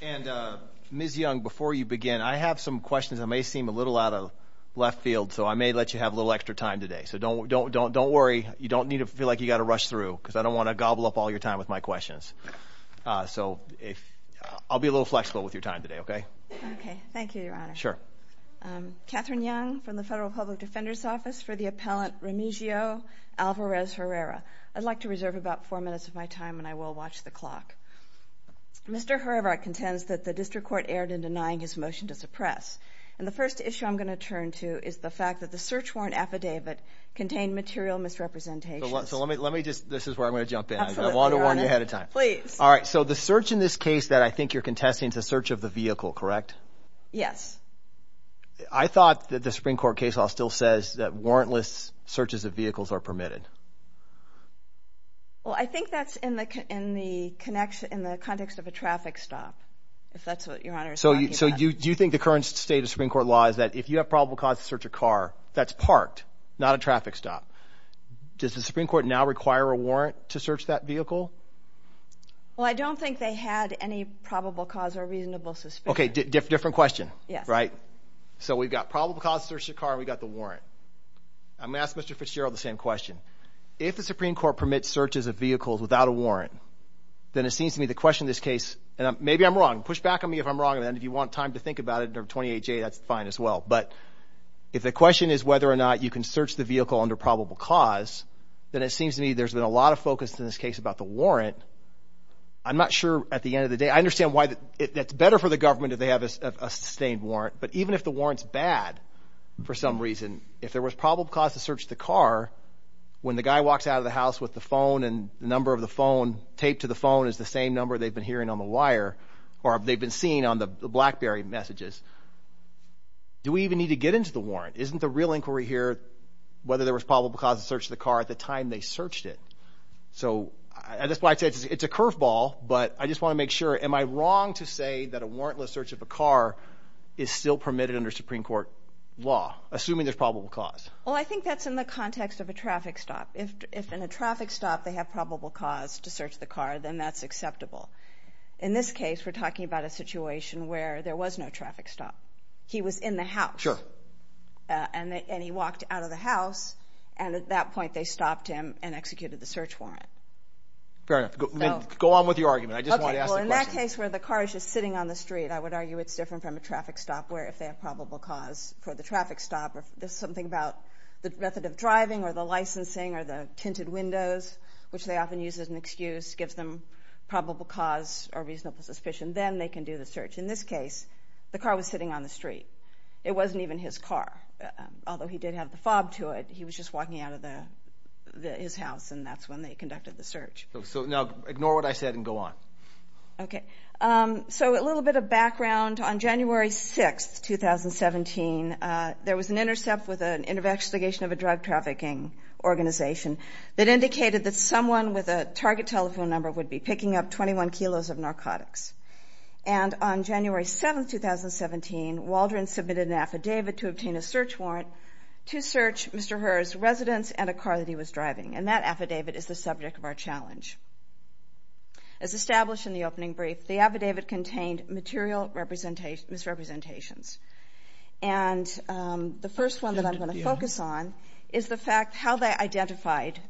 And Ms. Young, before you begin, I have some questions that may seem a little out of left field, so I may let you have a little extra time today. So don't worry. You don't need to feel like you've got to rush through, because I don't want to gobble up all your time with my questions. So I'll be a little flexible with your time today, OK? OK. Thank you, Your Honor. Sure. Catherine Young from the Federal Public Defender's Office for the appellant Remigio Alvarez Herrera. I'd like to reserve about four minutes of my time, and I will watch the clock. Mr. Herrera contends that the district court erred in denying his motion to suppress. And the first issue I'm going to turn to is the fact that the search warrant affidavit contained material misrepresentations. So let me just, this is where I'm going to jump in. Absolutely, Your Honor. I want to warn you ahead of time. Please. All right. So the search in this case that I think you're contesting is a search of the vehicle, correct? Yes. I thought that the Supreme Court case law still says that warrantless searches of vehicles are permitted. Well, I think that's in the context of a traffic stop, if that's what Your Honor is talking about. So do you think the current state of Supreme Court law is that if you have probable cause to search a car that's parked, not a traffic stop, does the Supreme Court now require a Well, I don't think they had any probable cause or reasonable suspicion. Okay, different question, right? So we've got probable cause to search a car and we've got the warrant. I'm going to ask Mr. Fitzgerald the same question. If the Supreme Court permits searches of vehicles without a warrant, then it seems to me the question in this case, and maybe I'm wrong, push back on me if I'm wrong, and if you want time to think about it under 28J, that's fine as well, but if the question is whether or not you can search the vehicle under probable cause, then it seems to me there's been a case about the warrant. I'm not sure at the end of the day, I understand why it's better for the government if they have a sustained warrant, but even if the warrant's bad for some reason, if there was probable cause to search the car, when the guy walks out of the house with the phone and the number of the phone, taped to the phone is the same number they've been hearing on the wire, or they've been seeing on the BlackBerry messages, do we even need to get into the warrant? Isn't the real inquiry here whether there was probable cause to search the car at the time they searched it? So, that's why I say it's a curveball, but I just want to make sure, am I wrong to say that a warrantless search of a car is still permitted under Supreme Court law, assuming there's probable cause? Well, I think that's in the context of a traffic stop. If in a traffic stop they have probable cause to search the car, then that's acceptable. In this case, we're talking about a situation where there was no traffic stop. He was in the house. Sure. And he walked out of the house, and at that point they stopped him and executed the search warrant. Fair enough. Go on with your argument. I just want to ask the question. Okay, well in that case where the car is just sitting on the street, I would argue it's different from a traffic stop where if they have probable cause for the traffic stop, or there's something about the method of driving or the licensing or the tinted windows, which they often use as an excuse, gives them probable cause or reasonable suspicion, then they can do the search. In this case, the car was sitting on the street. It wasn't even his car, although he did have the fob to it. He was just walking out of his house, and that's when they conducted the search. So now ignore what I said and go on. Okay. So, a little bit of background. On January 6th, 2017, there was an intercept with an investigation of a drug trafficking organization that indicated that someone with a target telephone number would be picking up 21 kilos of narcotics. And on January 7th, 2017, Waldron submitted an affidavit to obtain a search warrant to search Mr. Herrera's residence and a car that he was driving. And that affidavit is the subject of our challenge. As established in the opening brief, the affidavit contained material misrepresentations. And the first one that I'm going to focus on is the fact how they identified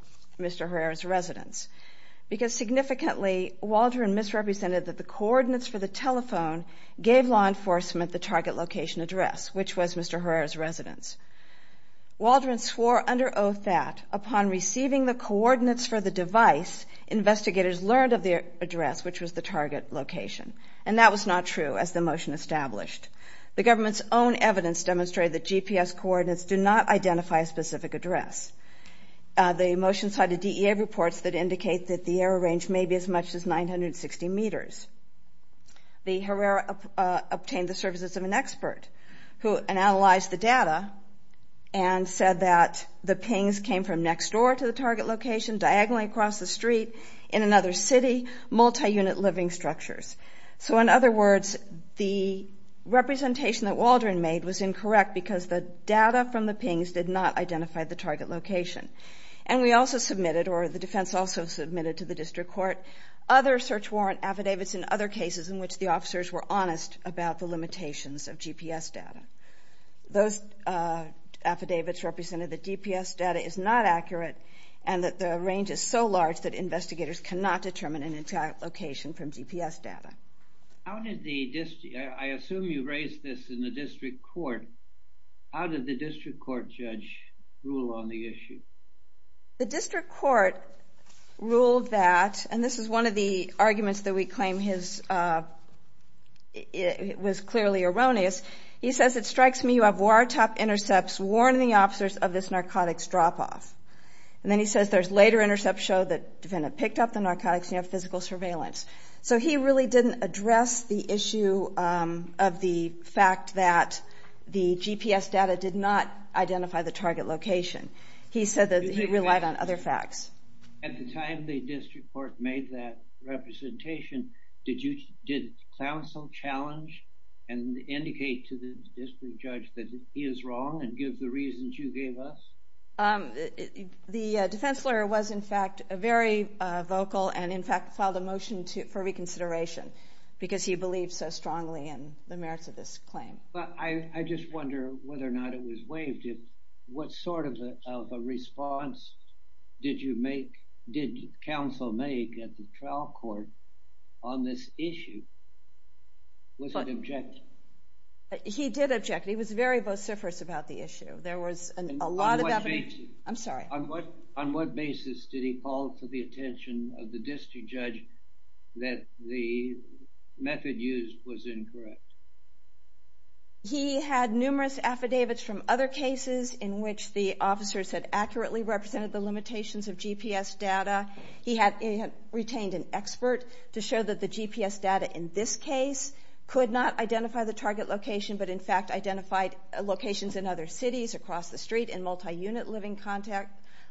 Mr. Herrera's And significantly, Waldron misrepresented that the coordinates for the telephone gave law enforcement the target location address, which was Mr. Herrera's residence. Waldron swore under oath that, upon receiving the coordinates for the device, investigators learned of the address, which was the target location. And that was not true, as the motion established. The government's own evidence demonstrated that GPS coordinates do not identify a specific address. The motion cited DEA reports that indicate that the error range may be as much as 960 meters. The Herrera obtained the services of an expert who analyzed the data and said that the pings came from next door to the target location, diagonally across the street, in another city, multi-unit living structures. So in other words, the representation that Waldron made was incorrect because the data from the pings did not identify the target location. And we also submitted, or the defense also submitted to the district court, other search warrant affidavits in other cases in which the officers were honest about the limitations of GPS data. Those affidavits represented that GPS data is not accurate and that the range is so large that investigators cannot determine an exact location from GPS data. How did the district, I assume you raised this in the district court, how did the district court judge rule on the issue? The district court ruled that, and this is one of the arguments that we claim was clearly erroneous. He says, it strikes me you have war top intercepts warning the officers of this narcotics drop off. And then he says there's later intercepts show that the defendant picked up the narcotics and you have physical surveillance. So he really didn't address the issue of the fact that the GPS data did not identify the target location. He said that he relied on other facts. At the time the district court made that representation, did you, did counsel challenge and indicate to the district judge that he is wrong and give the reasons you gave us? The defense lawyer was in fact very vocal and in fact filed a motion for reconsideration because he believed so strongly in the merits of this claim. I just wonder whether or not it was waived. What sort of a response did you make, did counsel make at the trial court on this issue? Was it objective? He did object. He was very vociferous about the issue. On what basis did he call to the attention of the district judge that the method used was incorrect? He had numerous affidavits from other cases in which the officers had accurately represented the limitations of GPS data. He had retained an expert to show that the GPS data in this case could not identify the communities across the street in multi-unit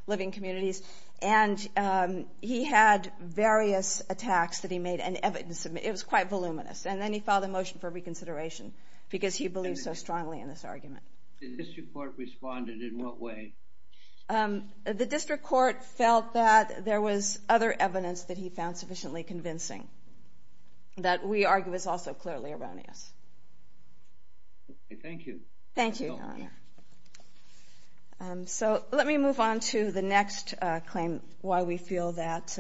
living communities and he had various attacks that he made and evidence, it was quite voluminous and then he filed a motion for reconsideration because he believed so strongly in this argument. The district court responded in what way? The district court felt that there was other evidence that he found sufficiently convincing that we argue is also clearly erroneous. Thank you. Thank you, Your Honor. So let me move on to the next claim why we feel that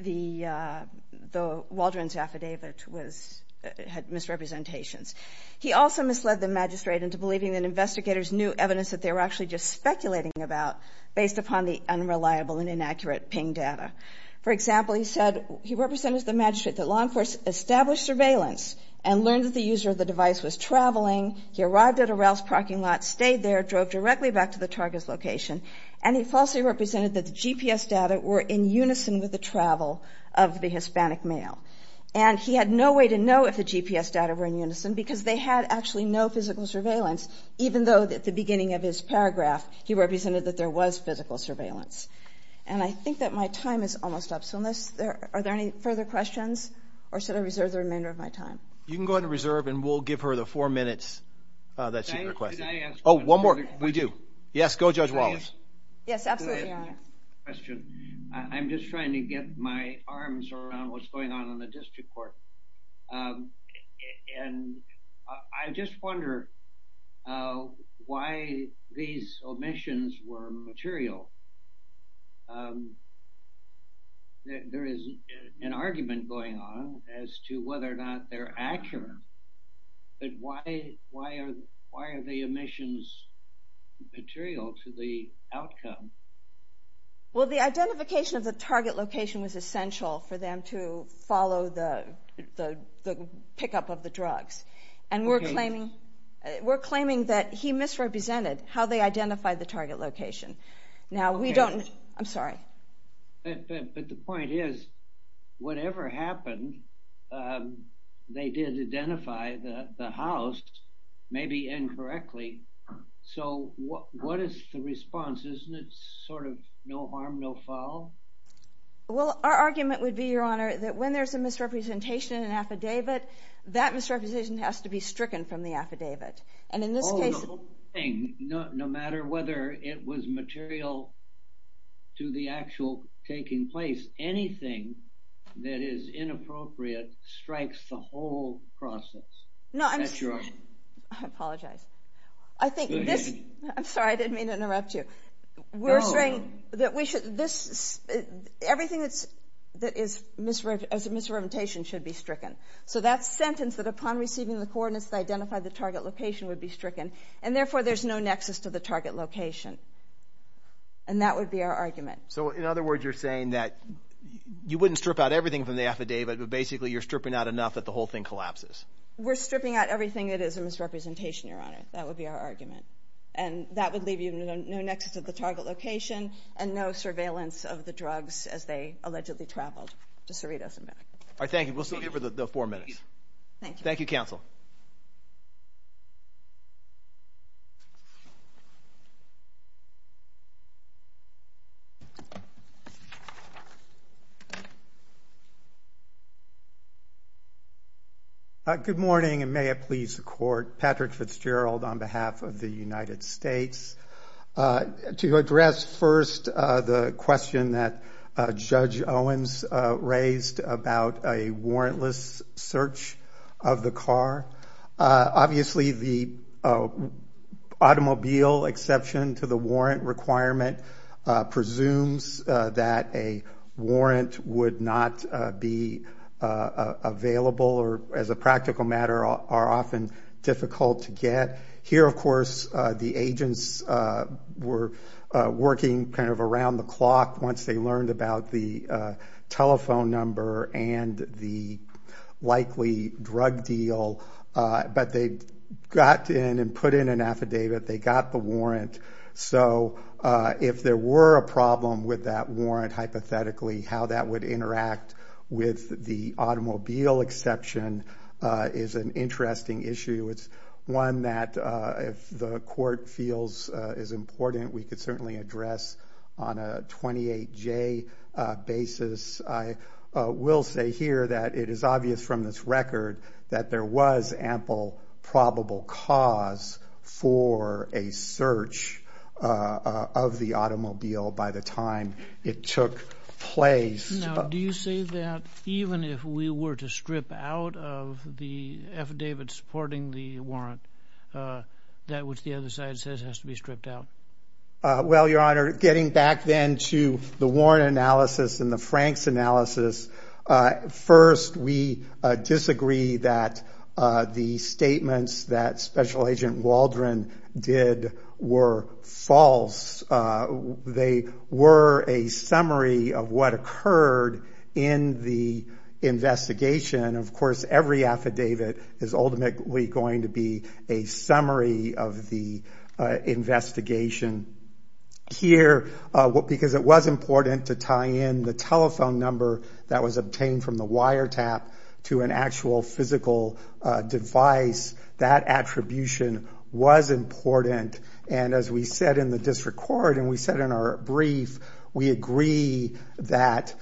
the Waldron's affidavit had misrepresentations. He also misled the magistrate into believing that investigators knew evidence that they were actually just speculating about based upon the unreliable and inaccurate ping data. For example, he said he represented the magistrate that law enforcement established surveillance and learned that the user of the device was traveling. He arrived at a rails parking lot, stayed there, drove directly back to the target's location and he falsely represented that the GPS data were in unison with the travel of the Hispanic male. And he had no way to know if the GPS data were in unison because they had actually no physical surveillance even though at the beginning of his paragraph he represented that there was physical surveillance. And I think that my time is almost up so unless, are there any further questions or should I reserve the remainder of my time? You can go ahead and reserve and we'll give her the four minutes that she requested. Oh, one more. We do. Yes. Go, Judge Wallace. Yes, absolutely, Your Honor. I have a question. I'm just trying to get my arms around what's going on in the district court and I just wonder why these omissions were material. There is an argument going on as to whether or not they're accurate but why are the omissions material to the outcome? Well the identification of the target location was essential for them to follow the pickup of the drugs and we're claiming that he misrepresented how they identified the target location. Okay. Now we don't, I'm sorry. But the point is whatever happened they did identify the house maybe incorrectly so what is the response? Isn't it sort of no harm, no foul? Well our argument would be, Your Honor, that when there's a misrepresentation in an affidavit that misrepresentation has to be stricken from the affidavit. And in this case... The whole thing, no matter whether it was material to the actual taking place, anything that is inappropriate strikes the whole process. No, I'm sorry. I apologize. Go ahead. I'm sorry, I didn't mean to interrupt you. No. We're saying that everything that is misrepresentation should be stricken. So that sentence that upon receiving the coordinates they identified the target location would be stricken. And therefore there's no nexus to the target location. And that would be our argument. So in other words you're saying that you wouldn't strip out everything from the affidavit but basically you're stripping out enough that the whole thing collapses. We're stripping out everything that is a misrepresentation, Your Honor. That would be our argument. And that would leave you with no nexus to the target location and no surveillance of the drugs as they allegedly traveled to Cerritos, America. All right, thank you. We'll still give her the four minutes. Thank you. Thank you, Counsel. Good morning and may it please the Court. Patrick Fitzgerald on behalf of the United States. To address first the question that Judge Owens raised about a warrantless search of the car. Obviously the automobile exception to the warrant requirement presumes that a warrant would not be available or as a practical matter are often difficult to get. Here of course the agents were working kind of around the clock once they learned about the telephone number and the likely drug deal. But they got in and put in an affidavit. They got the warrant. So if there were a problem with that warrant hypothetically how that would interact with the automobile exception is an interesting issue. It's one that if the Court feels is important we could certainly address on a 28-J basis. I will say here that it is obvious from this record that there was ample probable cause for a search of the automobile by the time it took place. Do you say that even if we were to strip out of the affidavit supporting the warrant that which the other side says has to be stripped out? Well Your Honor, getting back then to the warrant analysis and the Frank's analysis. First we disagree that the statements that Special Agent Waldron did were false. They were a summary of what occurred in the investigation. Of course every affidavit is ultimately going to be a summary of the investigation. Here because it was important to tie in the telephone number that was obtained from the wiretap to an actual physical device, that attribution was important. As we said in the District Court and we said in our brief, we agree that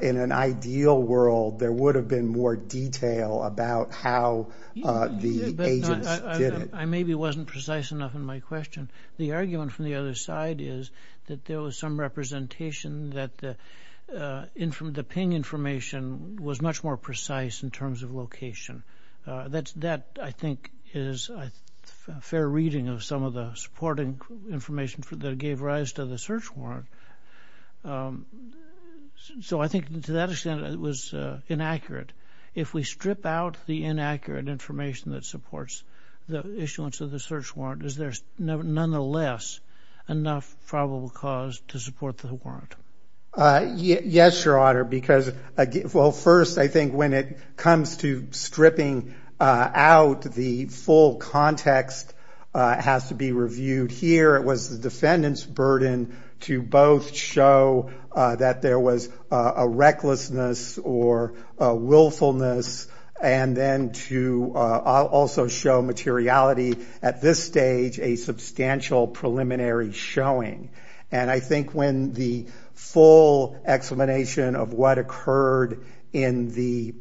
in an ideal world there would have been more detail about how the agents did it. I maybe wasn't precise enough in my question. The argument from the other side is that there was some representation that the ping information was much more precise in terms of location. That I think is a fair reading of some of the supporting information that gave rise to the search warrant. So I think to that extent it was inaccurate. If we strip out the inaccurate information that supports the issuance of the search warrant, is there nonetheless enough probable cause to support the warrant? Yes, Your Honor, because first I think when it comes to stripping out the full context has to be reviewed. Here it was the defendant's burden to both show that there was a recklessness or a willfulness and then to also show materiality. At this stage a substantial preliminary showing. And I think when the full explanation of what occurred in the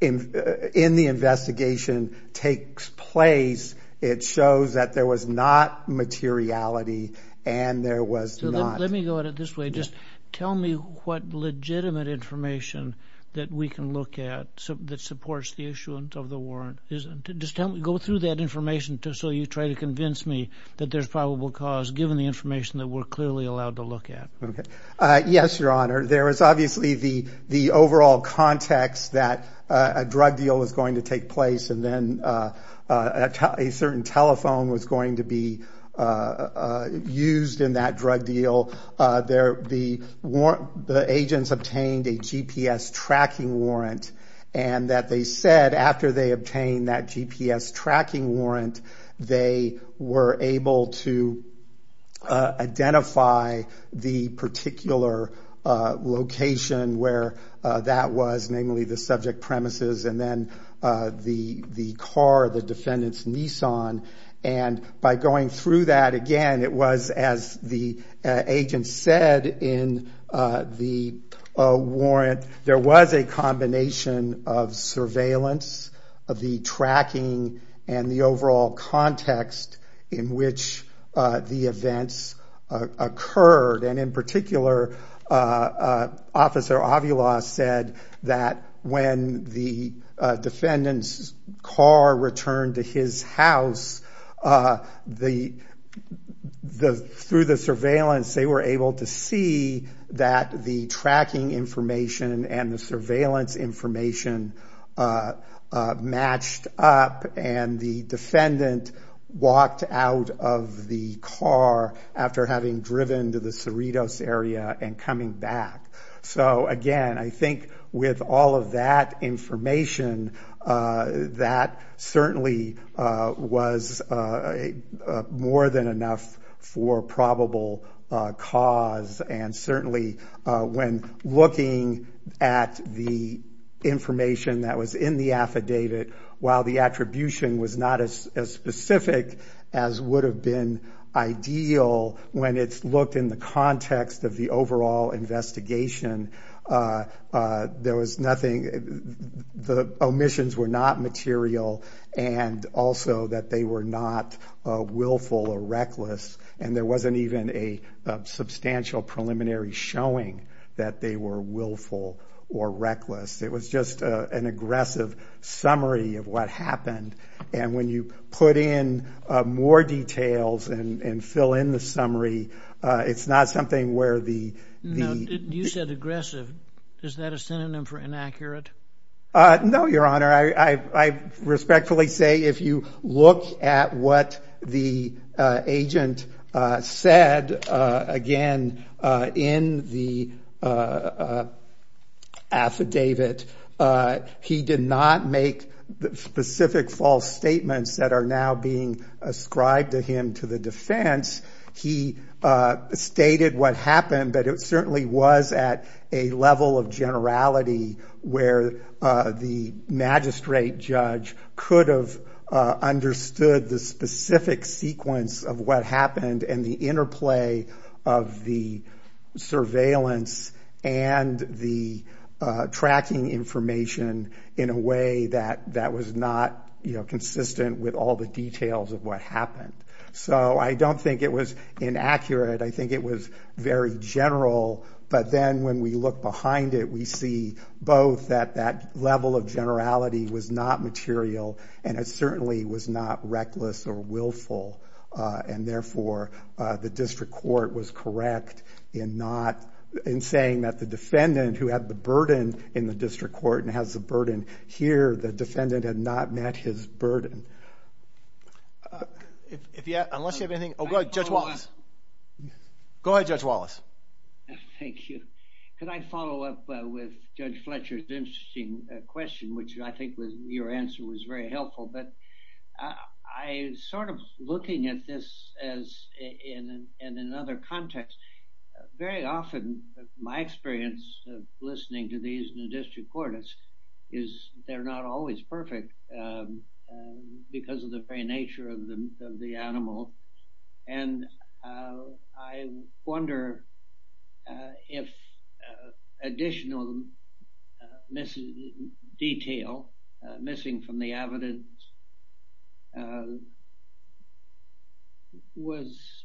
investigation takes place, it shows that there was not materiality and there was not... Let me go at it this way. Just tell me what legitimate information that we can look at that supports the issuance of the warrant. Just go through that information so you try to convince me that there's probable cause given the information that we're clearly allowed to look at. Yes, Your Honor. There is obviously the overall context that a drug deal was going to take place and then a certain telephone was going to be used in that drug deal. The agents obtained a GPS tracking warrant and that they said after they obtained that GPS tracking warrant, they were able to identify the particular location where that was, namely the subject premises and then the car, the defendant's Nissan. And by going through that again, it was as the agent said in the warrant, there was a the overall context in which the events occurred and in particular, Officer Avila said that when the defendant's car returned to his house, through the surveillance, they were able to see that the tracking information and the surveillance information matched up and the defendant walked out of the car after having driven to the Cerritos area and coming back. So again, I think with all of that information, that certainly was more than enough for probable cause and certainly when looking at the information that was in the affidavit, while the attribution was not as specific as would have been ideal when it's looked in the context of the overall investigation, there was nothing, the omissions were not material and also that they were not willful or reckless. And there wasn't even a substantial preliminary showing that they were willful or reckless. It was just an aggressive summary of what happened. And when you put in more details and fill in the summary, it's not something where the... No, you said aggressive. Is that a synonym for inaccurate? No, Your Honor. I respectfully say if you look at what the agent said, again, in the affidavit, he did not make specific false statements that are now being ascribed to him to the defense. He stated what happened, but it certainly was at a level of generality where the magistrate judge could have understood the specific sequence of what happened and the interplay of the surveillance and the tracking information in a way that was not consistent with all the details of what happened. So I don't think it was inaccurate. I think it was very general. But then when we look behind it, we see both that that level of generality was not material and it certainly was not reckless or willful. And therefore, the district court was correct in saying that the defendant who had the burden in the district court and has a burden here, the defendant had not met his burden. Unless you have anything. Oh, go ahead, Judge Wallace. Go ahead, Judge Wallace. Thank you. Could I follow up with Judge Fletcher's interesting question, which I think was your answer was very helpful. But I sort of looking at this as in another context, very often my experience of listening to these in the district court is they're not always perfect because of the very nature of the animal. And I wonder if additional detail missing from the evidence was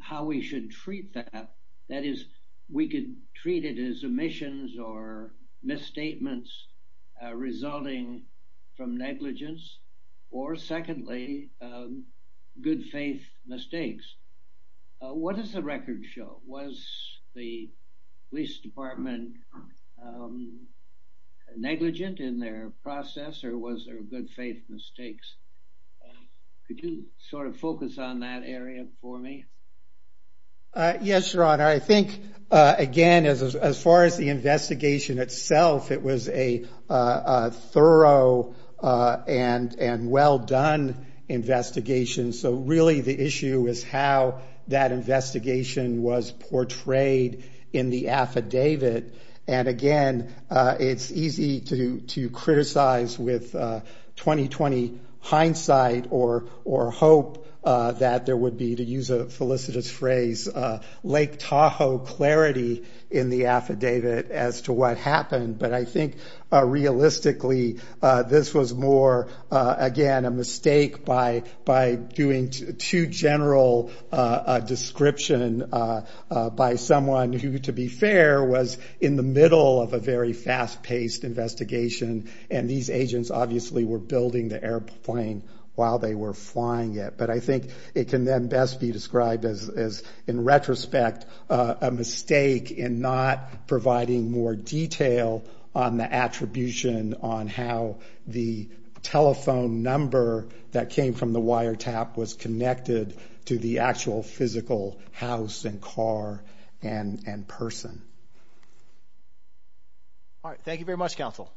how we should treat that. That is, we could treat it as omissions or misstatements resulting from negligence or secondly, good faith mistakes. What does the record show? Was the police department negligent in their process or was there good faith mistakes? Could you sort of focus on that area for me? Yes, Your Honor. I think, again, as far as the investigation itself, it was a thorough and well done investigation. So really, the issue is how that investigation was portrayed in the affidavit. And again, it's easy to criticize with 20-20 hindsight or hope that there would be, to use a felicitous phrase, Lake Tahoe clarity in the affidavit as to what happened. But I think realistically, this was more, again, a mistake by doing too general a description by someone who, to be fair, was in the middle of a very fast paced investigation. And these agents obviously were building the airplane while they were flying it. But I think it can then best be described as, in retrospect, a mistake in not providing more detail on the attribution on how the telephone number that came from the wiretap was connected to the actual physical house and car and person. All right. Thank you very much, counsel.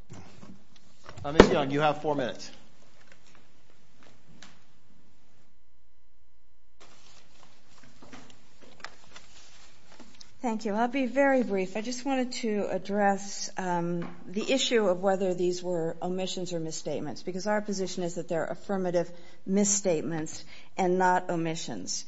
Ms. Young, you have four minutes. Thank you. I'll be very brief. I just wanted to address the issue of whether these were omissions or misstatements, because our position is that they're affirmative misstatements and not omissions.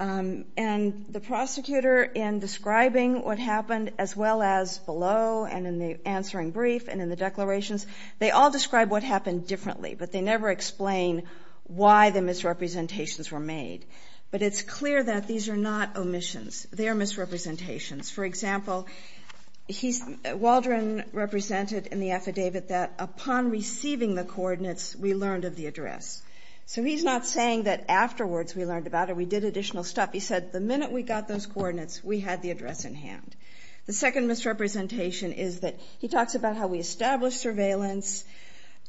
And the prosecutor, in describing what happened, as well as below and in the answering brief and in the declarations, they all describe what happened differently. But they never explain why the misrepresentations were made. But it's clear that these are not omissions. They're misrepresentations. For example, Waldron represented in the affidavit that upon receiving the coordinates, we learned of the address. So he's not saying that afterwards we learned about it, we did additional stuff. He said the minute we got those coordinates, we had the address in hand. The second misrepresentation is that he talks about how we established surveillance.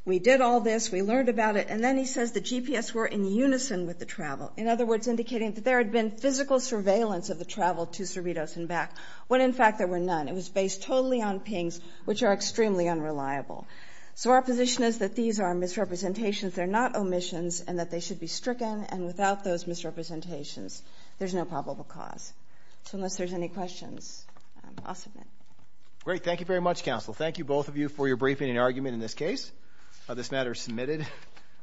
We did all this. We learned about it. And then he says the GPS were in unison with the travel. In other words, indicating that there had been physical surveillance of the travel to Cerritos and back, when in fact there were none. It was based totally on pings, which are extremely unreliable. So our position is that these are misrepresentations. They're not omissions and that they should be stricken. And without those misrepresentations, there's no probable cause. So unless there's any questions, I'll submit. Great. Thank you very much, counsel. Thank you both of you for your briefing and argument in this case. This matter is submitted.